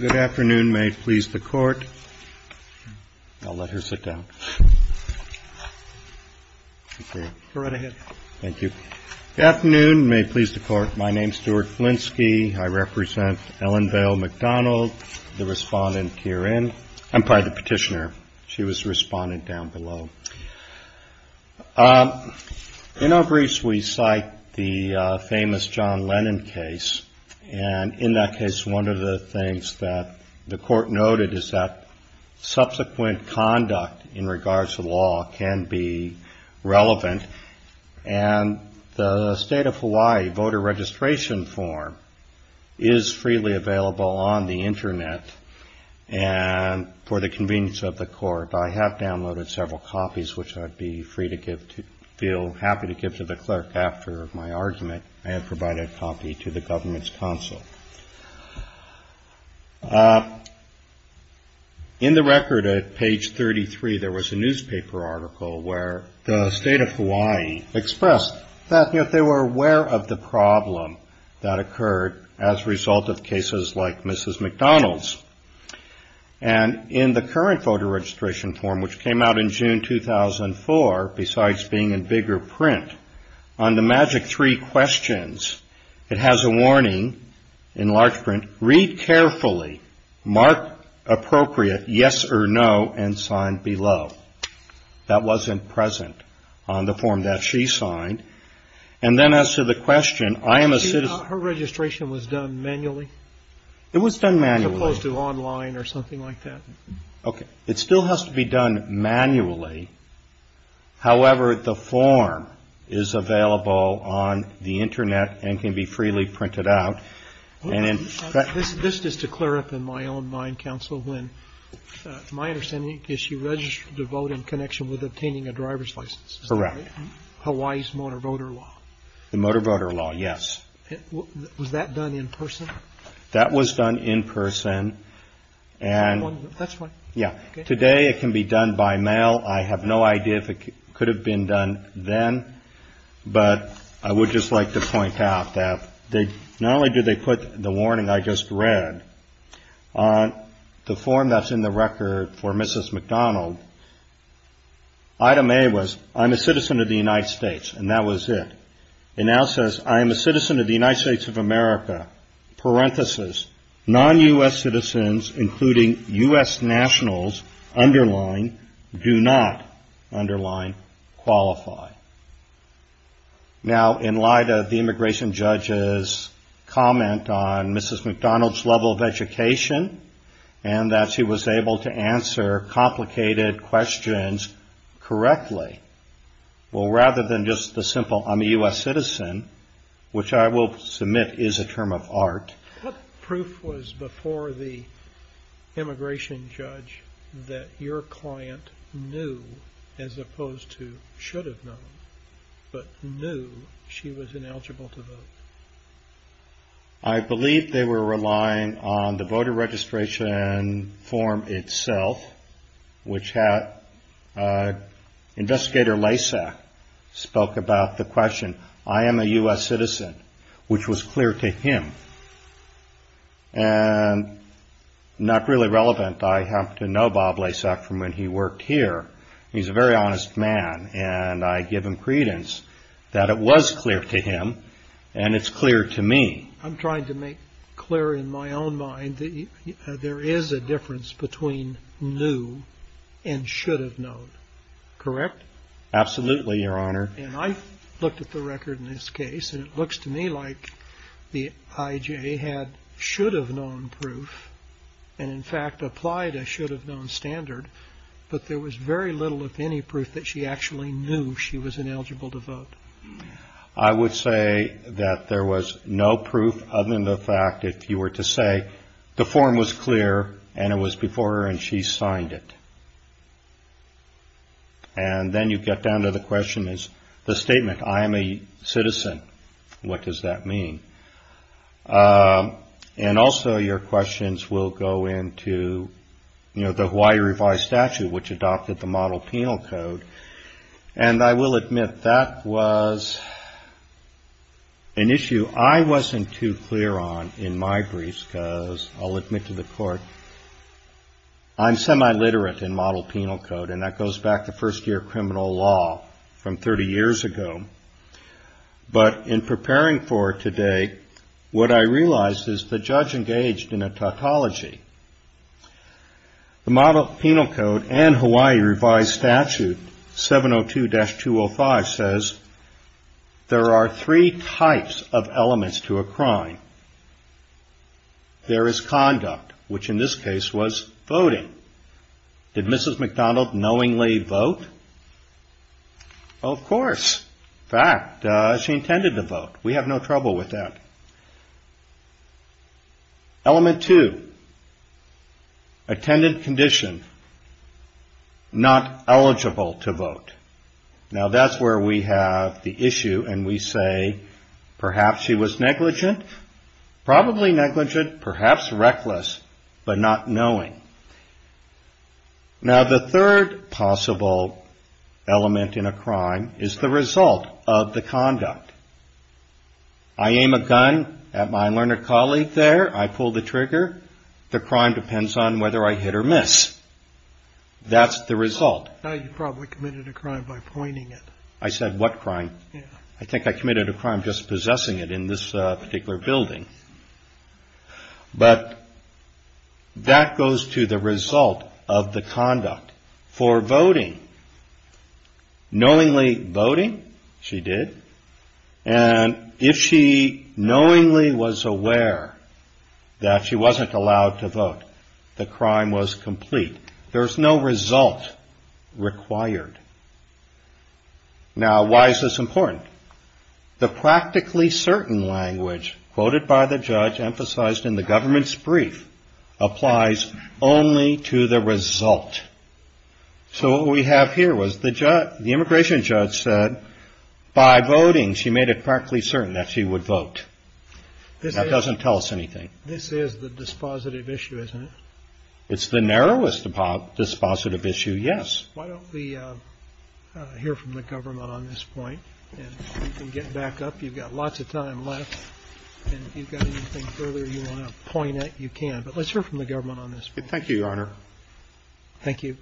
Good afternoon. May it please the court. I'll let her sit down. Go right ahead. Thank you. Good afternoon. May it please the court. My name's Stuart Flinsky. I represent Ellen Vale McDonald, the respondent herein. I'm probably the petitioner. She was the respondent down below. In our briefs, we cite the famous John Lennon case. And in that case, one of the things that the court noted is that subsequent conduct in regards to law can be relevant. And the state of Hawaii voter registration form is freely available on the Internet. And for the convenience of the court, I have downloaded several copies, which I'd be free to give to feel happy to give to the clerk after my argument. I have provided a copy to the government's council. In the record at page 33, there was a newspaper article where the state of Hawaii expressed that they were aware of the problem that occurred as a result of cases like Mrs. McDonald's. And in the current voter registration form, which came out in June 2004, besides being in bigger print on the magic three questions, it has a warning in large print. Read carefully. Mark appropriate yes or no and sign below. That wasn't present on the form that she signed. And then as to the question, I am a citizen. Her registration was done manually. It was done manually to online or something like that. OK. It still has to be done manually. However, the form is available on the Internet and can be freely printed out. And this is to clear up in my own mind, counsel. When my understanding is you register to vote in connection with obtaining a driver's license. Correct. Hawaii's motor voter law. The motor voter law. Yes. Was that done in person? That was done in person. And that's right. Yeah. Today it can be done by mail. I have no idea if it could have been done then. But I would just like to point out that they not only do they put the warning I just read on the form that's in the record for Mrs. McDonald. Item A was I'm a citizen of the United States. And that was it. It now says I am a citizen of the United States of America. Parentheses non-U.S. citizens, including U.S. nationals, underline do not underline qualify. Now, in light of the immigration judges comment on Mrs. McDonald's level of education and that she was able to answer complicated questions correctly. Well, rather than just the simple I'm a U.S. citizen, which I will submit is a term of art. What proof was before the immigration judge that your client knew, as opposed to should have known, but knew she was ineligible to vote? I believe they were relying on the voter registration form itself, which had investigator Laysak spoke about the question. I am a U.S. citizen, which was clear to him. And not really relevant. I have to know Bob Laysak from when he worked here. He's a very honest man, and I give him credence that it was clear to him and it's clear to me. I'm trying to make clear in my own mind that there is a difference between new and should have known. Correct? Absolutely, Your Honor. And I looked at the record in this case, and it looks to me like the I.J. had should have known proof and, in fact, applied a should have known standard. But there was very little, if any, proof that she actually knew she was ineligible to vote. I would say that there was no proof other than the fact if you were to say the form was clear and it was before her and she signed it. And then you get down to the question is the statement. I am a citizen. What does that mean? And also your questions will go into, you know, the Hawaii revised statute, which adopted the model penal code. And I will admit that was an issue I wasn't too clear on in my briefs. Because I'll admit to the court I'm semi literate in model penal code. And that goes back to first year criminal law from 30 years ago. But in preparing for today, what I realized is the judge engaged in a tautology. The model penal code and Hawaii revised statute 702-205 says there are three types of elements to a crime. There is conduct, which in this case was voting. Did Mrs. McDonald knowingly vote? Of course. Fact. She intended to vote. We have no trouble with that. Element two. Attendant condition. Not eligible to vote. Now, that's where we have the issue and we say perhaps she was negligent, probably negligent, perhaps reckless, but not knowing. Now, the third possible element in a crime is the result of the conduct. I aim a gun at my learned colleague there. I pull the trigger. The crime depends on whether I hit or miss. That's the result. You probably committed a crime by pointing it. I said what crime? I think I committed a crime just possessing it in this particular building. But that goes to the result of the conduct for voting. Knowingly voting. She did. And if she knowingly was aware that she wasn't allowed to vote, the crime was complete. There is no result required. Now, why is this important? The practically certain language quoted by the judge emphasized in the government's brief applies only to the result. So what we have here was the judge, the immigration judge said by voting, she made it practically certain that she would vote. This doesn't tell us anything. This is the dispositive issue, isn't it? It's the narrowest dispositive issue. Yes. Why don't we hear from the government on this point and get back up? You've got lots of time left and you've got anything further you want to point at. You can, but let's hear from the government on this. Thank you, Your Honor. Thank you.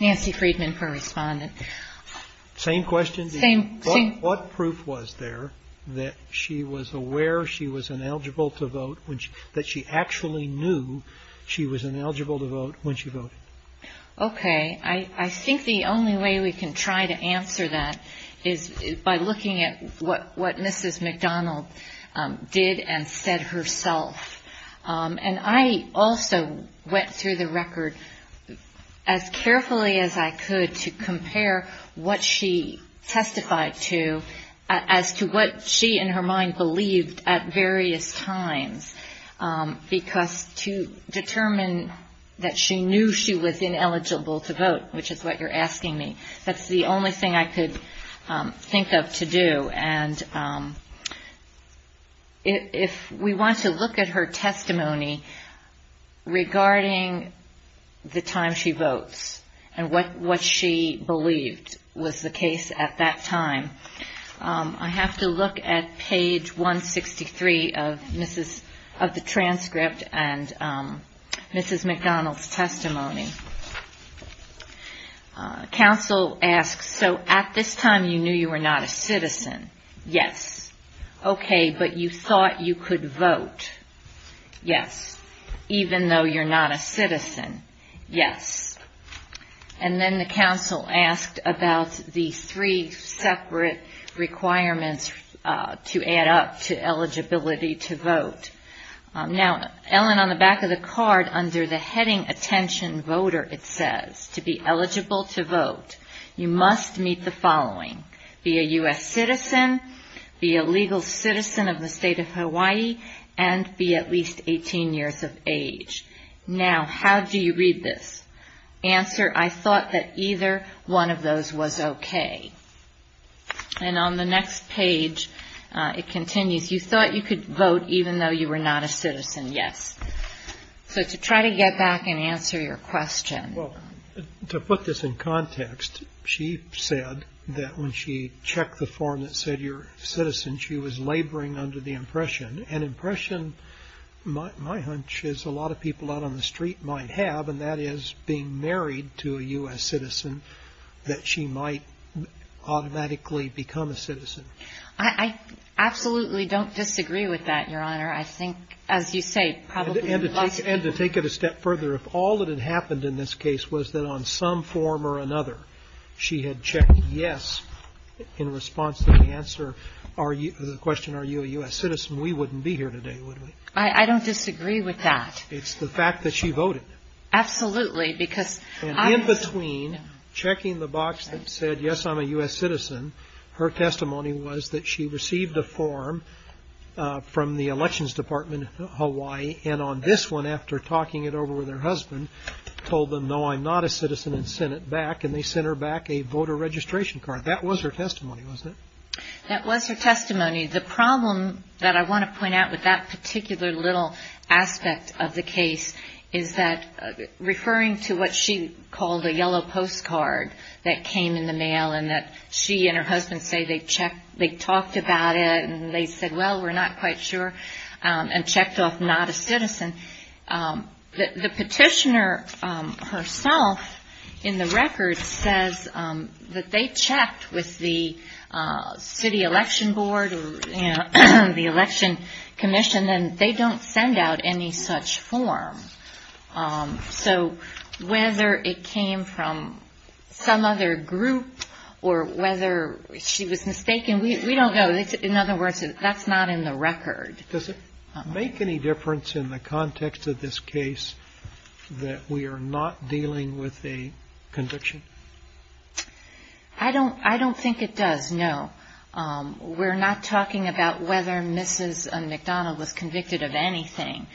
Nancy Friedman correspondent. Same question. Same thing. What proof was there that she was aware she was ineligible to vote when she that she actually knew she was ineligible to vote when she voted? OK. I think the only way we can try to answer that is by looking at what what Mrs. McDonald did and said herself. And I also went through the record as carefully as I could to compare what she testified to as to what she in her mind believed at various times, because to determine that she knew she was ineligible to vote, which is what you're asking me, that's the only thing I could think of to do. And if we want to look at her testimony regarding the time she votes and what what she believed was the case at that time, I have to look at page 163 of Mrs. of the transcript and Mrs. McDonald's testimony. Counsel asks, so at this time you knew you were not a citizen? Yes. OK, but you thought you could vote? Yes. Even though you're not a citizen? Yes. And then the counsel asked about the three separate requirements to add up to eligibility to vote. Now, Ellen, on the back of the card, under the heading attention voter, it says to be eligible to vote, you must meet the following. Be a U.S. citizen, be a legal citizen of the state of Hawaii, and be at least 18 years of age. Now, how do you read this? Answer, I thought that either one of those was OK. And on the next page, it continues, you thought you could vote even though you were not a citizen? Yes. So to try to get back and answer your question. Well, to put this in context, she said that when she checked the form that said you're a citizen, she was laboring under the impression. An impression, my hunch, is a lot of people out on the street might have, and that is being married to a U.S. citizen, that she might automatically become a citizen. I absolutely don't disagree with that, Your Honor. I think, as you say, probably most people do. And to take it a step further, if all that had happened in this case was that on some form or another she had checked yes in response to the answer, the question, are you a U.S. citizen, we wouldn't be here today, would we? I don't disagree with that. It's the fact that she voted. Absolutely. And in between checking the box that said, yes, I'm a U.S. citizen, her testimony was that she received a form from the Elections Department of Hawaii, and on this one, after talking it over with her husband, told them, no, I'm not a citizen, and sent it back, and they sent her back a voter registration card. That was her testimony. The problem that I want to point out with that particular little aspect of the case is that, referring to what she called a yellow postcard that came in the mail and that she and her husband say they checked, they talked about it, and they said, well, we're not quite sure, and checked off not a citizen, the petitioner herself, in the record, says that they checked with the city election board or the election commission, and they don't send out any such form. So whether it came from some other group or whether she was mistaken, we don't know. In other words, that's not in the record. Does it make any difference in the context of this case that we are not dealing with a conviction? I don't think it does, no. We're not talking about whether Mrs. McDonnell was convicted of anything,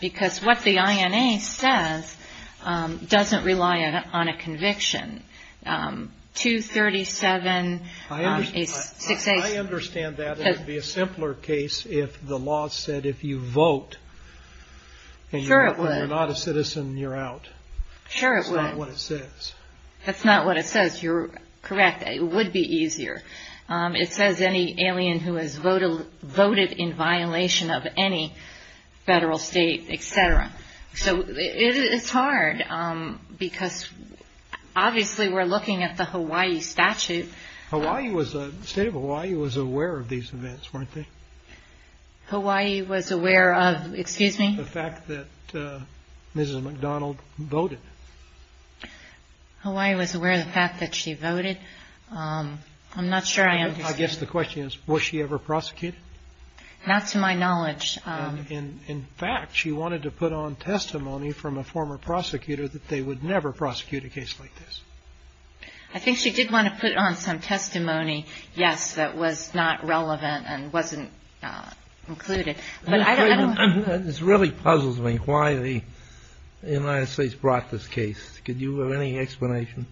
because what the INA says doesn't rely on a conviction. 237-6-8. I understand that it would be a simpler case if the law said if you vote and you're not a citizen, you're out. Sure it would. That's not what it says. That's not what it says. You're correct. It would be easier. It says any alien who has voted in violation of any federal, state, et cetera. So it's hard, because obviously we're looking at the Hawaii statute. The state of Hawaii was aware of these events, weren't they? Hawaii was aware of, excuse me? The fact that Mrs. McDonnell voted. Hawaii was aware of the fact that she voted. I'm not sure I understand. I guess the question is, was she ever prosecuted? Not to my knowledge. In fact, she wanted to put on testimony from a former prosecutor that they would never prosecute a case like this. I think she did want to put on some testimony, yes, that was not relevant and wasn't included. This really puzzles me why the United States brought this case. Do you have any explanation?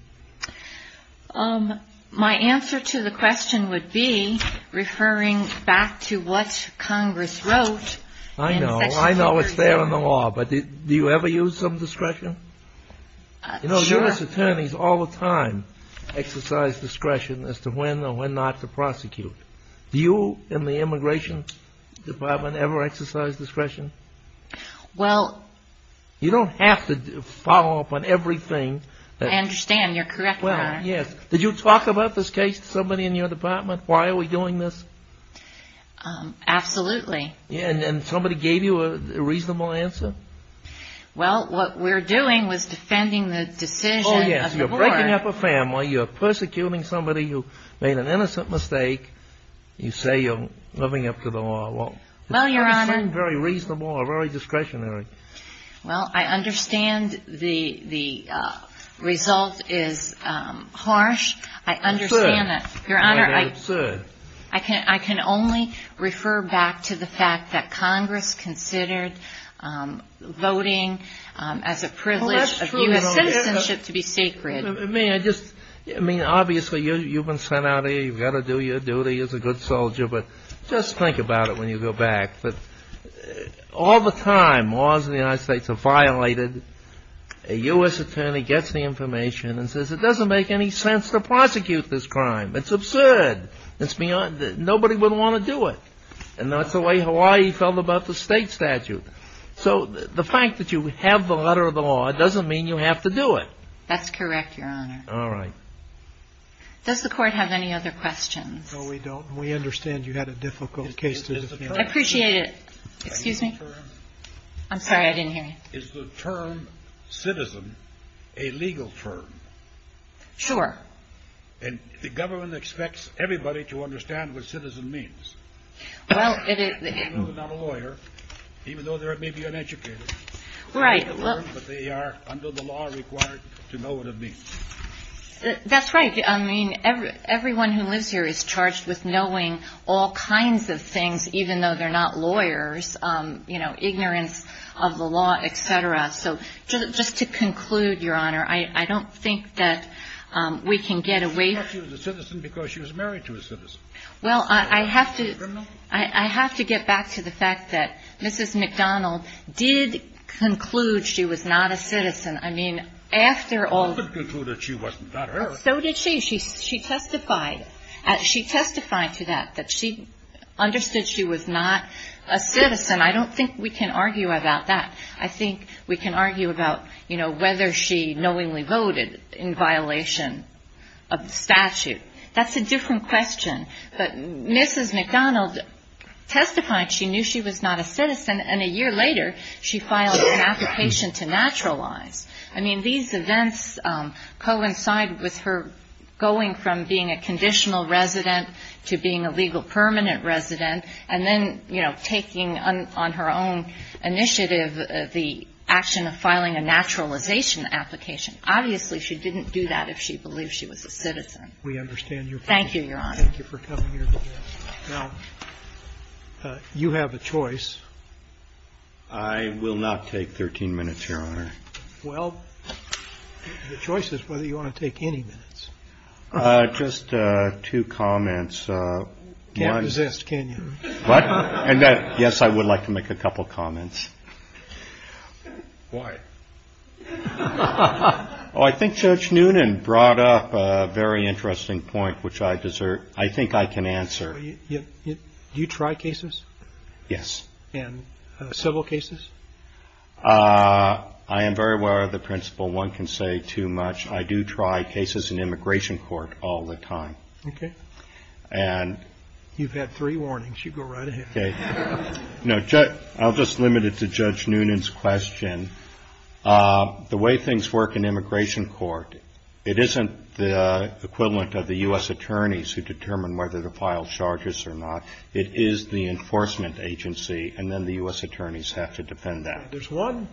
My answer to the question would be, referring back to what Congress wrote. I know. I know it's there in the law, but do you ever use some discretion? Sure. Congress attorneys all the time exercise discretion as to when or when not to prosecute. Do you in the Immigration Department ever exercise discretion? Well. You don't have to follow up on everything. I understand. You're correct, Myron. Yes. Did you talk about this case to somebody in your department? Why are we doing this? Absolutely. And somebody gave you a reasonable answer? Well, what we're doing was defending the decision of the board. Oh, yes. You're breaking up a family. You're persecuting somebody who made an innocent mistake. You say you're living up to the law. Well, Your Honor. It doesn't seem very reasonable or very discretionary. Well, I understand the result is harsh. I understand that. Absurd. Absurd. I can only refer back to the fact that Congress considered voting as a privilege of U.S. citizenship to be sacred. I mean, obviously you've been sent out here. You've got to do your duty as a good soldier, but just think about it when you go back. All the time laws in the United States are violated. A U.S. attorney gets the information and says it doesn't make any sense to prosecute this crime. It's absurd. Nobody would want to do it. And that's the way Hawaii felt about the state statute. So the fact that you have the letter of the law doesn't mean you have to do it. That's correct, Your Honor. All right. Does the Court have any other questions? No, we don't. We understand you had a difficult case to defend. I appreciate it. Excuse me? I'm sorry. I didn't hear you. Is the term citizen a legal term? Sure. And the government expects everybody to understand what citizen means. Well, it is. Even though they're not a lawyer, even though they may be uneducated. Right. But they are under the law required to know what it means. That's right. I mean, everyone who lives here is charged with knowing all kinds of things, even though they're not lawyers. You know, ignorance of the law, et cetera. So just to conclude, Your Honor, I don't think that we can get away from it. But she was a citizen because she was married to a citizen. Well, I have to get back to the fact that Mrs. McDonald did conclude she was not a citizen. I mean, after all — She didn't conclude that she wasn't. Not her. So did she. She testified. She testified to that, that she understood she was not a citizen. I don't think we can argue about that. I think we can argue about, you know, whether she knowingly voted in violation of statute. That's a different question. But Mrs. McDonald testified she knew she was not a citizen, and a year later she filed an application to naturalize. I mean, these events coincide with her going from being a conditional resident to being a legal permanent resident, and then, you know, taking on her own initiative the action of filing a naturalization application. Obviously, she didn't do that if she believed she was a citizen. We understand your point. Thank you, Your Honor. Thank you for coming here today. Now, you have a choice. I will not take 13 minutes, Your Honor. Well, the choice is whether you want to take any minutes. Just two comments. Can't resist, can you? Yes, I would like to make a couple comments. Why? I think Judge Noonan brought up a very interesting point, which I think I can answer. Do you try cases? Yes. And civil cases? I am very aware of the principle one can say too much. I do try cases in immigration court all the time. Okay. You've had three warnings. You go right ahead. Okay. No, I'll just limit it to Judge Noonan's question. The way things work in immigration court, it isn't the equivalent of the U.S. attorneys who determine whether to file charges or not. It is the enforcement agency, and then the U.S. attorneys have to defend that. There's one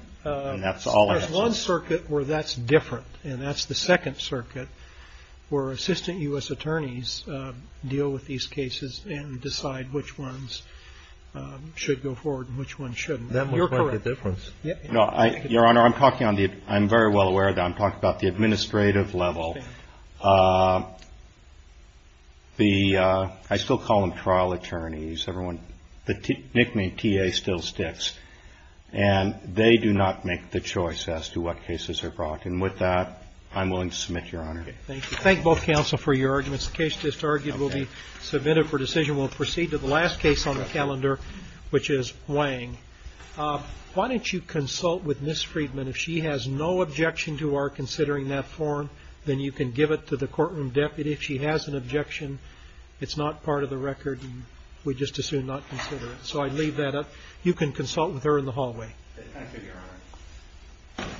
circuit where that's different, and that's the Second Circuit, where assistant U.S. attorneys deal with these cases and decide which ones should go forward and which ones shouldn't. You're correct. Your Honor, I'm talking on the ‑‑ I'm very well aware of that. I'm talking about the administrative level. I still call them trial attorneys. The nickname T.A. still sticks. And they do not make the choice as to what cases are brought. And with that, I'm willing to submit, Your Honor. Thank you. Thank both counsel for your arguments. The case just argued will be submitted for decision. We'll proceed to the last case on the calendar, which is Wang. Why don't you consult with Ms. Friedman? If she has no objection to our considering that form, then you can give it to the courtroom deputy. If she has an objection, it's not part of the record, and we'd just as soon not consider it. So I'd leave that up. You can consult with her in the hallway. Thank you, Your Honor. Thank you.